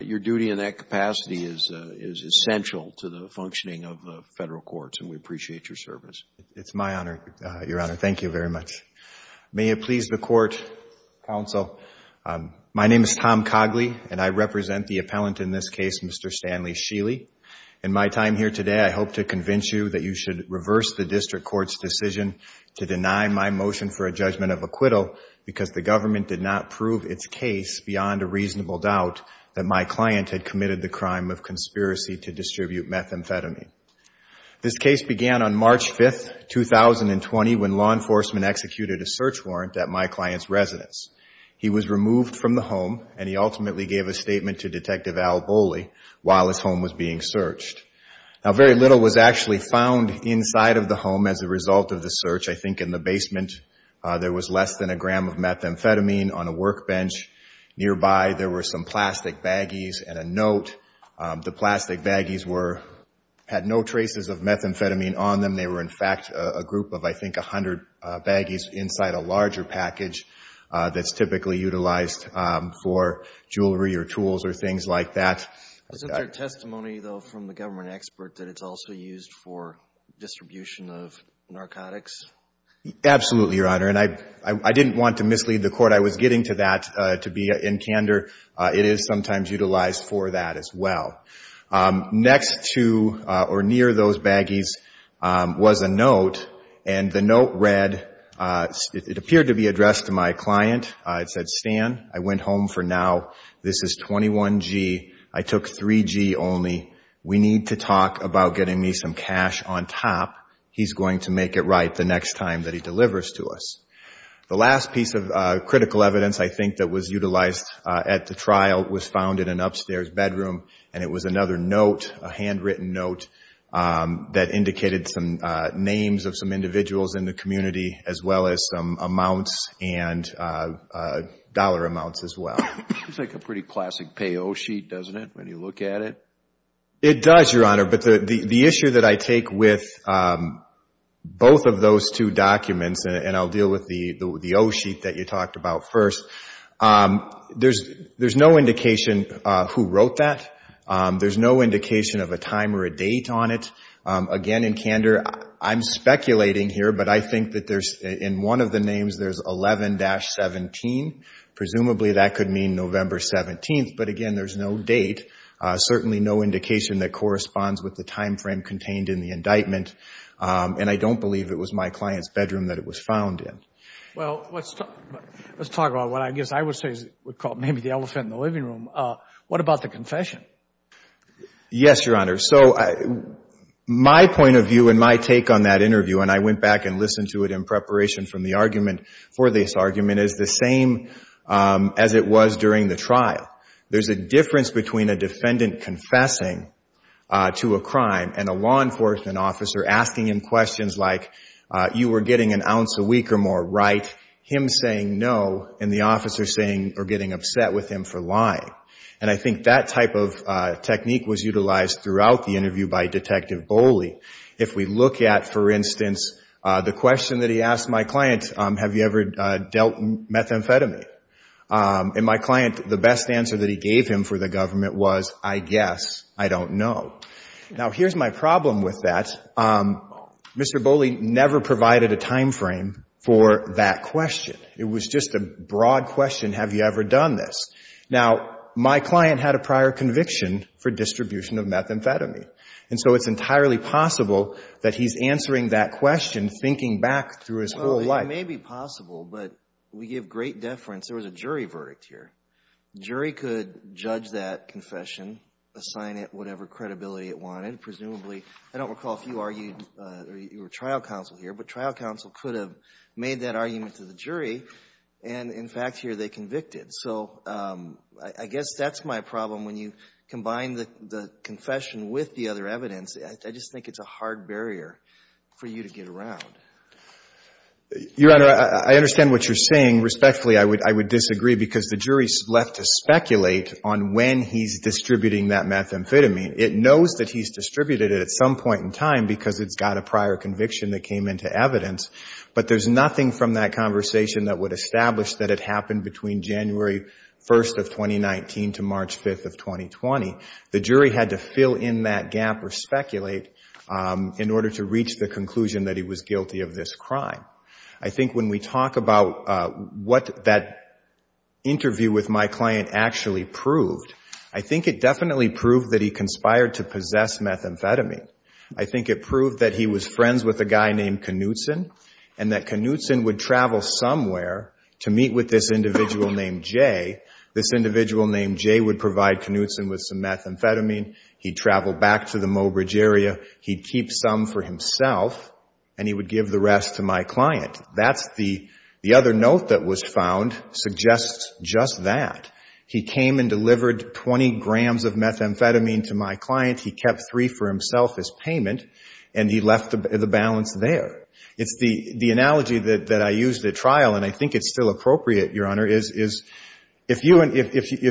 Your duty in that capacity is essential to the functioning of federal courts and we appreciate your service. It's my honor, Your Honor. Thank you very much. May it please the court, counsel, my name is Tom Cogley and I represent the appellant in this case, Mr. Stanley Schily. In my time here today, I hope to convince you that you should reverse the district court's decision to deny my motion for a judgment of acquittal because the government did not approve its case beyond a reasonable doubt that my client had committed the crime of conspiracy to distribute methamphetamine. This case began on March 5, 2020, when law enforcement executed a search warrant at my client's residence. He was removed from the home and he ultimately gave a statement to Detective Al Bowley while his home was being searched. Now very little was actually found inside of the home as a result of the search. I think in the basement, there was less than a gram of methamphetamine. On a workbench nearby, there were some plastic baggies and a note. The plastic baggies had no traces of methamphetamine on them. They were, in fact, a group of, I think, 100 baggies inside a larger package that's typically utilized for jewelry or tools or things like that. Wasn't there testimony, though, from the government expert that it's also used for distribution of narcotics? Absolutely, Your Honor, and I didn't want to mislead the court. I was getting to that to be in candor. It is sometimes utilized for that as well. Next to or near those baggies was a note, and the note read, it appeared to be addressed to my client. It said, Stan, I went home for now. This is 21G. I took 3G only. We need to talk about getting me some cash on top. He's going to make it right the next time that he delivers to us. The last piece of critical evidence, I think, that was utilized at the trial was found in an upstairs bedroom, and it was another note, a handwritten note that indicated some names of some individuals in the community as well as some amounts and dollar amounts as well. It's like a pretty classic pay-oh sheet, doesn't it, when you look at it? It does, Your Honor, but the issue that I take with both of those two documents, and I'll deal with the oh sheet that you talked about first, there's no indication who wrote that. There's no indication of a time or a date on it. Again, in candor, I'm speculating here, but I think that in one of the names, there's 11-17. Presumably, that could mean November 17th, but again, there's no date, certainly no indication that corresponds with the time frame contained in the indictment, and I don't believe it was my client's bedroom that it was found in. Well, let's talk about what I guess I would say is called maybe the elephant in the living room. What about the confession? Yes, Your Honor. So my point of view and my take on that interview, and I went back and listened to it in preparation from the argument for this argument, is the same as it was during the trial. There's a difference between a defendant confessing to a crime and a law enforcement officer asking him questions like, you were getting an ounce a week or more right, him saying no, and the officer saying or getting upset with him for lying. And I think that type of technique was utilized throughout the interview by Detective Boley. If we look at, for instance, the question that he asked my client, have you ever dealt methamphetamine? And my client, the best answer that he gave him for the government was, I guess, I don't know. Now, here's my problem with that. Mr. Boley never provided a time frame for that question. It was just a broad question, have you ever done this? Now, my client had a prior conviction for distribution of methamphetamine, and so it's entirely possible that he's answering that question, thinking back through his whole life. Well, it may be possible, but we give great deference. There was a jury verdict here. Jury could judge that confession, assign it whatever credibility it wanted. Presumably, I don't recall if you argued, you were trial counsel here, but trial counsel could have made that argument to the jury, and in fact, here they convicted. So I guess that's my problem. When you combine the confession with the other evidence, I just think it's a hard barrier for you to get around. Your Honor, I understand what you're saying. Respectfully, I would disagree, because the jury is left to speculate on when he's distributing that methamphetamine. It knows that he's distributed it at some point in time because it's got a prior conviction that came into evidence, but there's nothing from that conversation that would establish that it happened between January 1st of 2019 to March 5th of 2020. The jury had to fill in that gap or speculate in order to reach the conclusion that he was guilty of this crime. I think when we talk about what that interview with my client actually proved, I think it definitely proved that he conspired to possess methamphetamine. I think it proved that he was friends with a guy named Knutson, and that Knutson would travel somewhere to meet with this individual named Jay. This individual named Jay would provide Knutson with some methamphetamine. He'd travel back to the Mobridge area. He'd keep some for himself, and he would give the rest to my client. The other note that was found suggests just that. He came and delivered 20 grams of methamphetamine to my client. He kept three for himself as payment, and he left the balance there. It's the analogy that I used at trial, and I think it's still appropriate, Your Honor, is if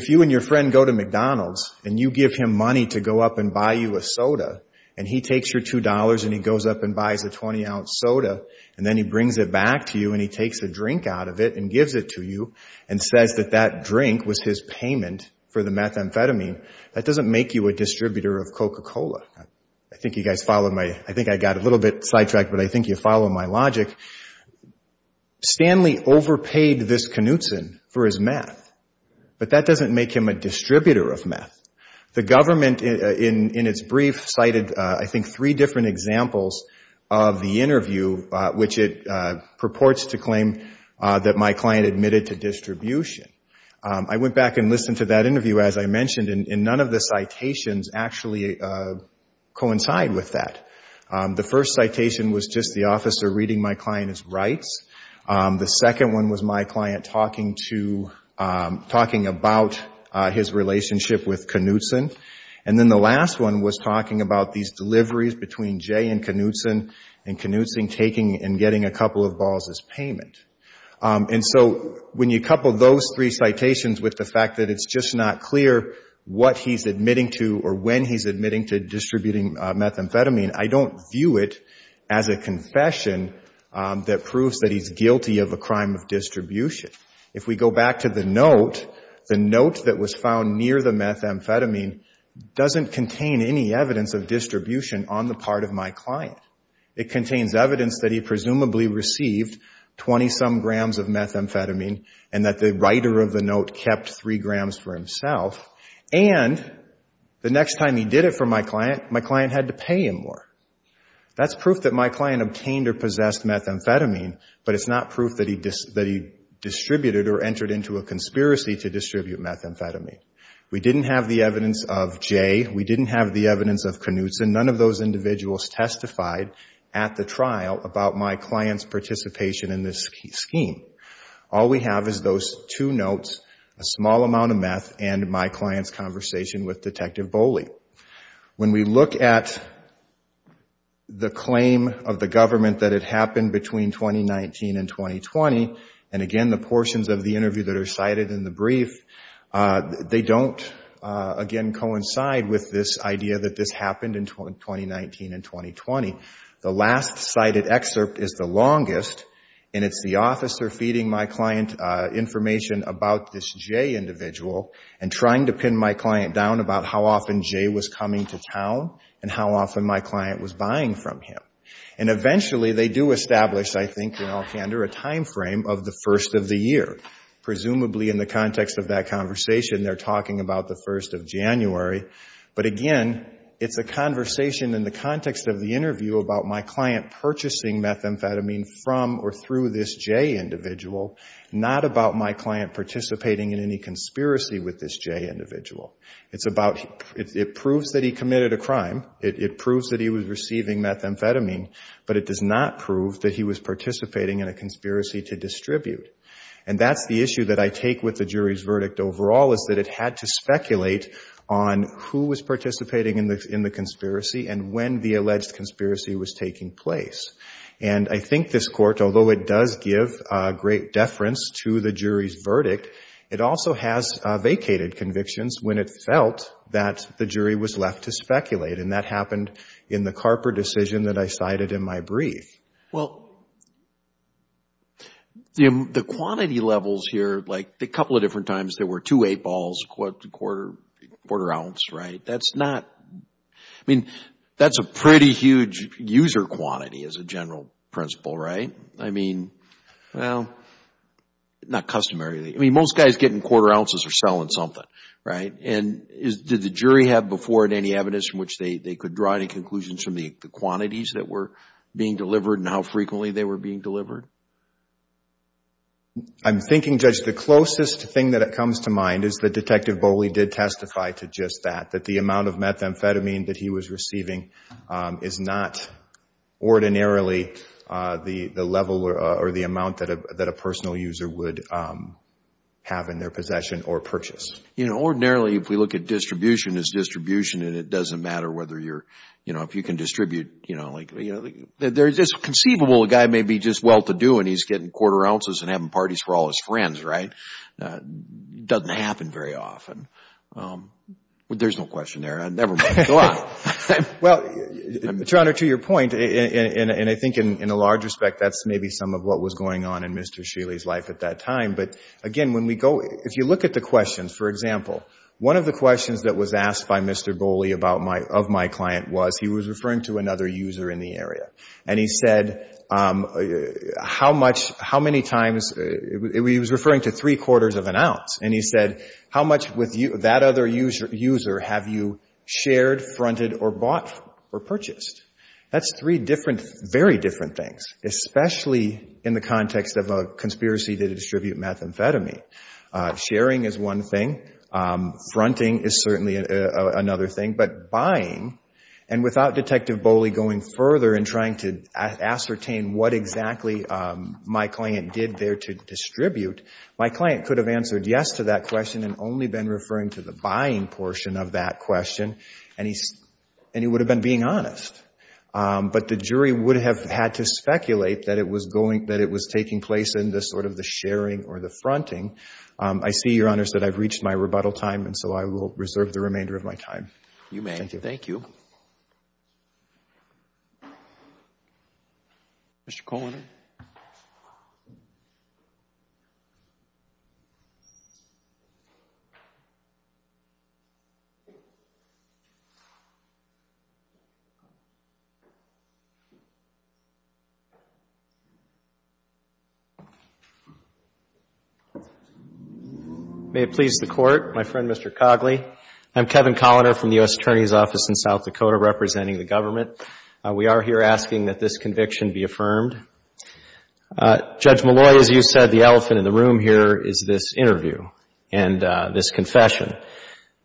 you and your friend go to McDonald's and you give him money to go up and buy you a soda, and he takes your $2 and he goes up and buys a 20-ounce soda, and then he brings it back to you and he takes a drink out of it and gives it to you and says that that drink was his payment for the methamphetamine, that doesn't make you a distributor of Coca-Cola. I think I got a little bit sidetracked, but I think you follow my logic. Stanley overpaid this Knutson for his meth, but that doesn't make him a distributor of meth. The government in its brief cited, I think, three different examples of the interview which it purports to claim that my client admitted to distribution. I went back and listened to that interview, as I mentioned, and none of the citations actually coincide with that. The first citation was just the officer reading my client's rights. The second one was my client talking about his relationship with Knutson, and then the last one was talking about these deliveries between Jay and Knutson, and Knutson taking and getting a couple of balls as payment. When you couple those three citations with the fact that it's just not clear what he's admitting to or when he's admitting to distributing methamphetamine, I don't view it as a confession that proves that he's guilty of a crime of distribution. If we go back to the note, the note that was found near the methamphetamine doesn't contain any evidence of distribution on the part of my client. It contains evidence that he presumably received 20-some grams of methamphetamine and that the writer of the note kept 3 grams for himself, and the next time he did it for my client, my client had to pay him more. That's proof that my client obtained or possessed methamphetamine, but it's not proof that he distributed or entered into a conspiracy to distribute methamphetamine. We didn't have the evidence of Jay, we didn't have the evidence of Knutson, none of those individuals testified at the trial about my client's participation in this scheme. All we have is those two notes, a small amount of meth, and my client's conversation with Detective Bowley. When we look at the claim of the government that it happened between 2019 and 2020, and again the portions of the interview that are cited in the brief, they don't again coincide with this idea that this happened in 2019 and 2020. The last cited excerpt is the longest, and it's the officer feeding my client information about this Jay individual and trying to pin my client down about how often Jay was coming to town and how often my client was buying from him. And eventually they do establish, I think in all candor, a timeframe of the first of the year. Presumably in the context of that conversation, they're talking about the first of January, but again, it's a conversation in the context of the interview about my client purchasing methamphetamine from or through this Jay individual, not about my client participating in any conspiracy with this Jay individual. It's about, it proves that he committed a crime, it proves that he was receiving methamphetamine, but it does not prove that he was participating in a conspiracy to distribute. And that's the issue that I take with the jury's verdict overall, is that it had to figure out who was participating in the conspiracy and when the alleged conspiracy was taking place. And I think this court, although it does give a great deference to the jury's verdict, it also has vacated convictions when it felt that the jury was left to speculate. And that happened in the Carper decision that I cited in my brief. Well, the quantity levels here, like a couple of different times, there were two eight balls, a quarter ounce, right? That's not, I mean, that's a pretty huge user quantity as a general principle, right? I mean, well, not customarily. I mean, most guys getting quarter ounces are selling something, right? And did the jury have before it any evidence in which they could draw any conclusions from the quantities that were being delivered and how frequently they were being delivered? I'm thinking, Judge, the closest thing that comes to mind is that Detective Bowley did testify to just that, that the amount of methamphetamine that he was receiving is not ordinarily the level or the amount that a personal user would have in their possession or purchase. You know, ordinarily, if we look at distribution, it's distribution and it doesn't matter whether you're, you know, if you can distribute, you know, like, you know, there's this conceivable a guy may be just well-to-do and he's getting quarter ounces and having parties for all his friends, right? It doesn't happen very often. There's no question there. Never mind. Go on. Well, Your Honor, to your point, and I think in a large respect, that's maybe some of what was going on in Mr. Shealy's life at that time, but again, when we go, if you look at the questions, for example, one of the questions that was asked by Mr. Bowley of my client was he was referring to another user in the area. And he said, how much, how many times, he was referring to three-quarters of an ounce. And he said, how much with that other user have you shared, fronted, or bought or purchased? That's three different, very different things, especially in the context of a conspiracy to distribute methamphetamine. Sharing is one thing. Fronting is certainly another thing. But buying, and without Detective Bowley going further and trying to ascertain what exactly my client did there to distribute, my client could have answered yes to that question and only been referring to the buying portion of that question, and he would have been being honest. But the jury would have had to speculate that it was going, that it was taking place in this sort of the sharing or the fronting. I see, Your Honors, that I've reached my rebuttal time, and so I will reserve the remainder of my time. Thank you. You may. Thank you. Mr. Kohler? May it please the Court, my friend, Mr. Cogley, I'm Kevin Kohler from the U.S. Attorney's Office in South Dakota, representing the government. We are here asking that this conviction be affirmed. Judge Molloy, as you said, the elephant in the room here is this interview and this confession.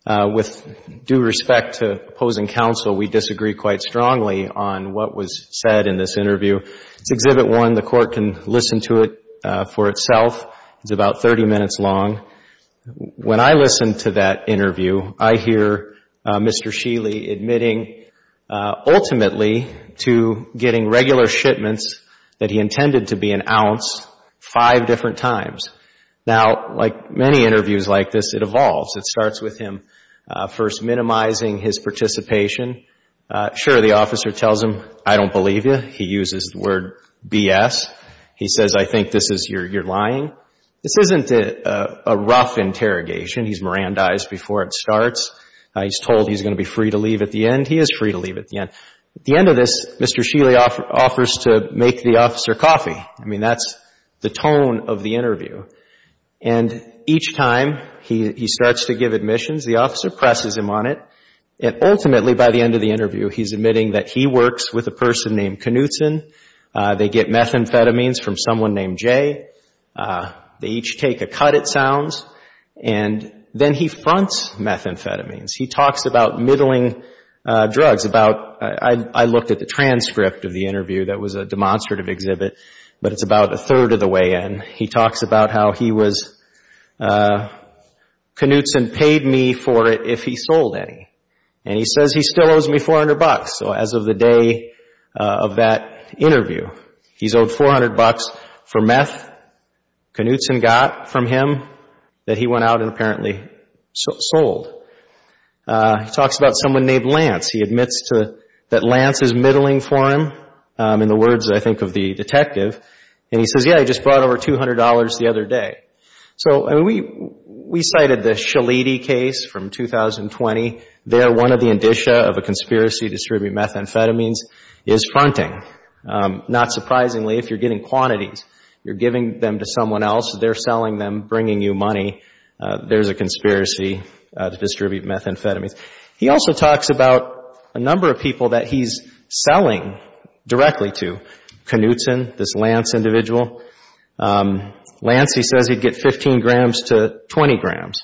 With due respect to opposing counsel, we disagree quite strongly on what was said in this interview. It's Exhibit 1. The Court can listen to it for itself. It's about 30 minutes long. When I listen to that interview, I hear Mr. Sheely admitting ultimately to getting regular shipments that he intended to be an ounce five different times. Now, like many interviews like this, it evolves. It starts with him first minimizing his participation. Sure, the officer tells him, I don't believe you. He uses the word BS. He says, I think this is, you're lying. This isn't a rough interrogation. He's Mirandized before it starts. He's told he's going to be free to leave at the end. He is free to leave at the end. At the end of this, Mr. Sheely offers to make the officer coffee. I mean, that's the tone of the interview. And each time he starts to give admissions, the officer presses him on it. And ultimately, by the end of the interview, he's admitting that he works with a person named Knutson. They get methamphetamines from someone named Jay. They each take a cut, it sounds. And then he fronts methamphetamines. He talks about middling drugs, about, I looked at the transcript of the interview that was a demonstrative exhibit, but it's about a third of the way in. He talks about how he was, Knutson paid me for it if he sold any. And he says he still owes me 400 bucks. So as of the day of that interview, he's owed 400 bucks for meth Knutson got from him that he went out and apparently sold. He talks about someone named Lance. He admits that Lance is middling for him, in the words, I think, of the detective. And he says, yeah, I just brought over $200 the other day. So we cited the Shaliti case from 2020. They are one of the indicia of a conspiracy to distribute methamphetamines, is fronting. Not surprisingly, if you're getting quantities, you're giving them to someone else, they're selling them, bringing you money, there's a conspiracy to distribute methamphetamines. He also talks about a number of people that he's selling directly to, Knutson, this Lance individual. Lance, he says he'd get 15 grams to 20 grams.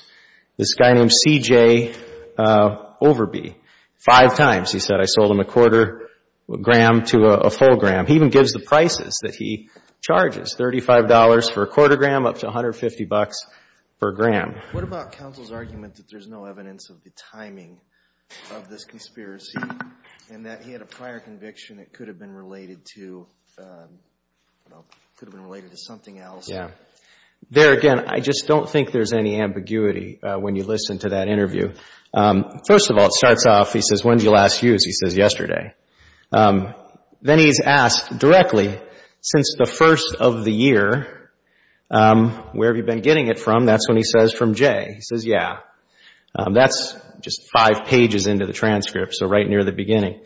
This guy named CJ Overby, five times, he said, I sold him a quarter gram to a full gram. He even gives the prices that he charges, $35 for a quarter gram, up to 150 bucks per gram. What about counsel's argument that there's no evidence of the timing of this conspiracy and that he had a prior conviction that could have been related to, could have been related to something else? Yeah. There again, I just don't think there's any ambiguity when you listen to that interview. First of all, it starts off, he says, when did you last use? He says, yesterday. Then he's asked directly, since the first of the year, where have you been getting it from? That's when he says, from Jay. He says, yeah. That's just five pages into the transcript, so right near the beginning.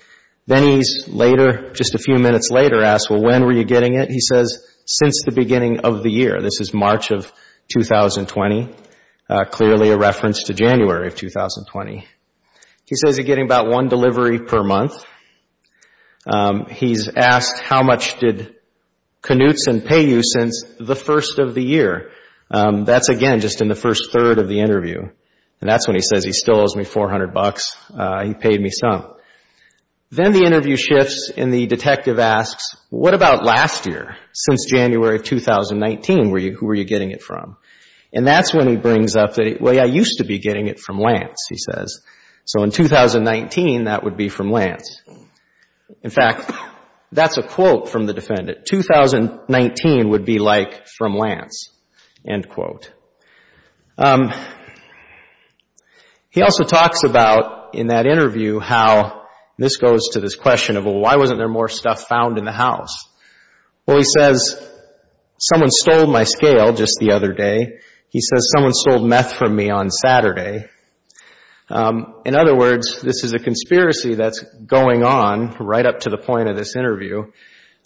Then he's later, just a few minutes later, asked, well, when were you getting it? He says, since the beginning of the year. This is March of 2020, clearly a reference to January of 2020. He says, you're getting about one delivery per month. He's asked, how much did Knutson pay you since the first of the year? That's again, just in the first third of the interview. That's when he says, he still owes me 400 bucks. He paid me some. Then the interview shifts and the detective asks, what about last year, since January of 2019, who were you getting it from? That's when he brings up that, well, yeah, I used to be getting it from Lance, he says. In 2019, that would be from Lance. In fact, that's a quote from the defendant, 2019 would be like from Lance, end quote. He also talks about, in that interview, how this goes to this question of, well, why wasn't there more stuff found in the house? Well, he says, someone stole my scale just the other day. He says, someone stole meth from me on Saturday. In other words, this is a conspiracy that's going on right up to the point of this interview.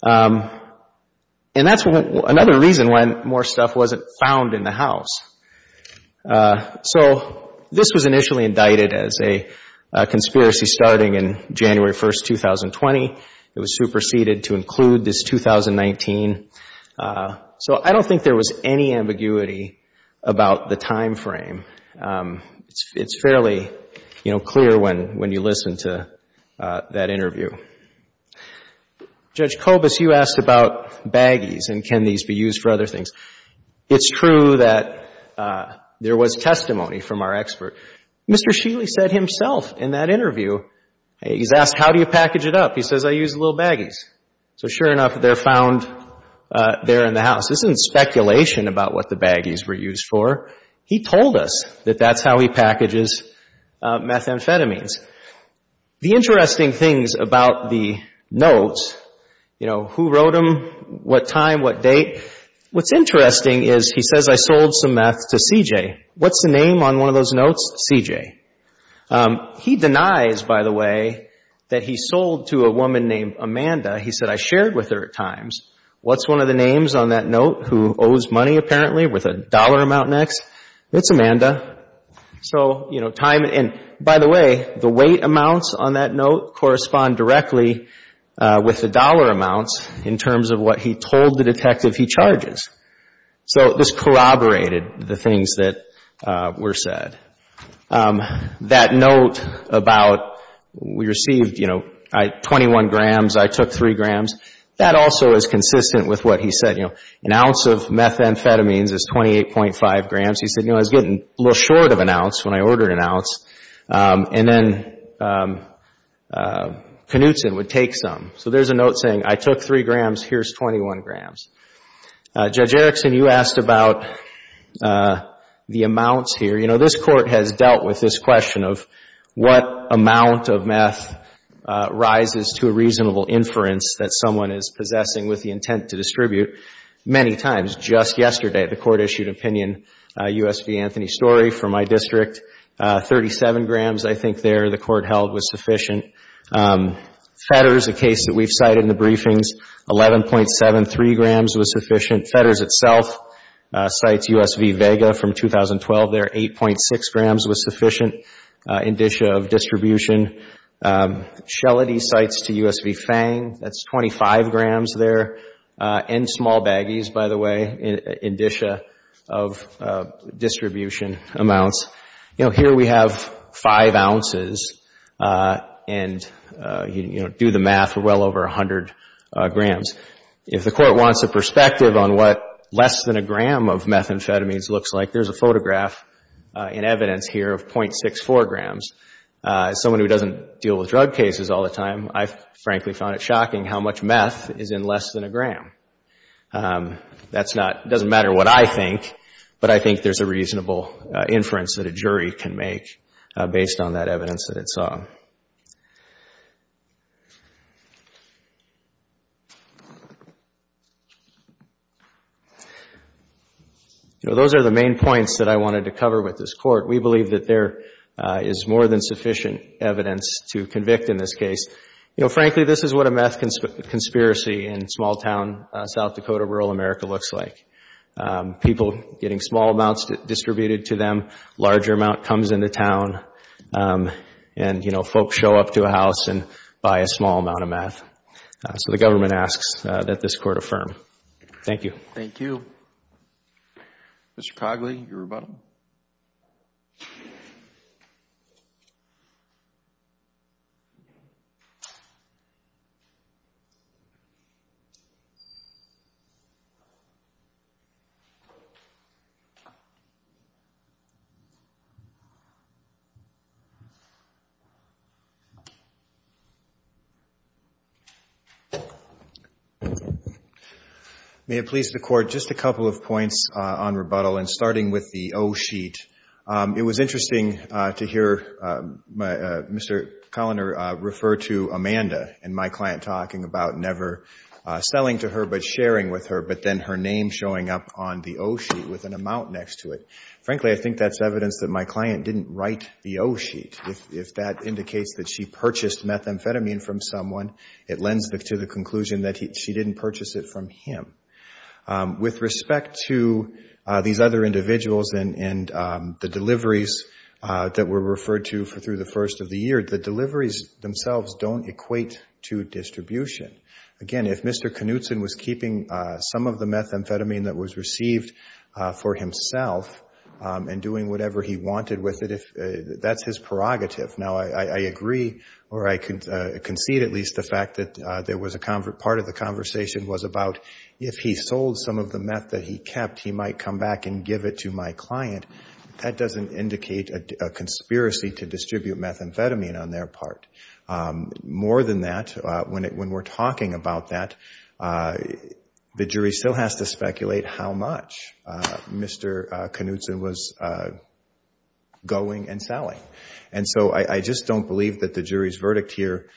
That's another reason why more stuff wasn't found in the house. This was initially indicted as a conspiracy starting in January 1st, 2020. It was superseded to include this 2019. I don't think there was any ambiguity about the timeframe. It's fairly clear when you listen to that interview. Judge Kobus, you asked about baggies and can these be used for other things. It's true that there was testimony from our expert. Mr. Shealy said himself in that interview, he's asked, how do you package it up? He says, I use little baggies. Sure enough, they're found there in the house. This isn't speculation about what the baggies were used for. He told us that that's how he packages methamphetamines. The interesting things about the notes, who wrote them, what time, what date, what's interesting is he says, I sold some meth to CJ. What's the name on one of those notes? CJ. He denies, by the way, that he sold to a woman named Amanda. He said, I shared with her at times. What's one of the names on that note who owes money apparently with a dollar amount next? It's Amanda. By the way, the weight amounts on that note correspond directly with the dollar amounts in terms of what he told the detective he charges. So this corroborated the things that were said. That note about we received 21 grams, I took 3 grams, that also is consistent with what he said. An ounce of methamphetamines is 28.5 grams. He said, I was getting a little short of an ounce when I ordered an ounce, and then Knutson would take some. So there's a note saying, I took 3 grams, here's 21 grams. Judge Erickson, you asked about the amounts here. You know, this Court has dealt with this question of what amount of meth rises to a reasonable inference that someone is possessing with the intent to distribute. Many times, just yesterday, the Court issued opinion, U.S. v. Anthony Story, from my district, 37 grams I think there the Court held was sufficient. Fetters, a case that we've cited in the briefings, 11.73 grams was sufficient. Fetters itself, cites U.S. v. Vega from 2012 there, 8.6 grams was sufficient in dish of distribution. Shellady cites to U.S. v. Fang, that's 25 grams there, in small baggies, by the way, in dish of distribution amounts. You know, here we have 5 ounces and, you know, do the math, well over 100 grams. If the Court wants a perspective on what less than a gram of methamphetamines looks like, there's a photograph in evidence here of .64 grams. As someone who doesn't deal with drug cases all the time, I frankly found it shocking That's not, it doesn't matter what I think, but I think there's a reasonable inference that a jury can make based on that evidence that it saw. Those are the main points that I wanted to cover with this Court. We believe that there is more than sufficient evidence to convict in this case. You know, frankly, this is what a meth conspiracy in small town South Dakota, rural America looks like. People getting small amounts distributed to them, larger amount comes into town and, you know, folks show up to a house and buy a small amount of meth. So the government asks that this Court affirm. Thank you. Thank you. Mr. Cogley, your rebuttal. May it please the Court, just a couple of points on rebuttal. Starting with the O-sheet, it was interesting to hear Mr. Colliner refer to Amanda and my client talking about never selling to her but sharing with her, but then her name showing up on the O-sheet with an amount next to it. Frankly, I think that's evidence that my client didn't write the O-sheet. If that indicates that she purchased methamphetamine from someone, it lends to the conclusion that she didn't purchase it from him. With respect to these other individuals and the deliveries that were referred to through the first of the year, the deliveries themselves don't equate to distribution. Again, if Mr. Knutson was keeping some of the methamphetamine that was received for himself and doing whatever he wanted with it, that's his prerogative. Now I agree or I concede at least the fact that part of the conversation was about if he sold some of the meth that he kept, he might come back and give it to my client. That doesn't indicate a conspiracy to distribute methamphetamine on their part. More than that, when we're talking about that, the jury still has to speculate how much Mr. Knutson was going and selling. I just don't believe that the jury's verdict here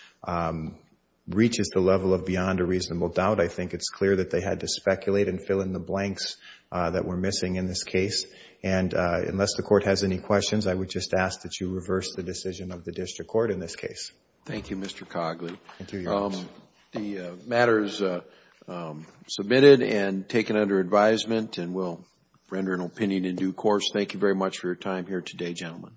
reaches the level of beyond a reasonable doubt. I think it's clear that they had to speculate and fill in the blanks that were missing in this case. And unless the Court has any questions, I would just ask that you reverse the decision of the district court in this case. Thank you, Mr. Cogley. Thank you, Your Honor. The matter is submitted and taken under advisement and we'll render an opinion in due course. Thank you very much for your time here today, gentlemen.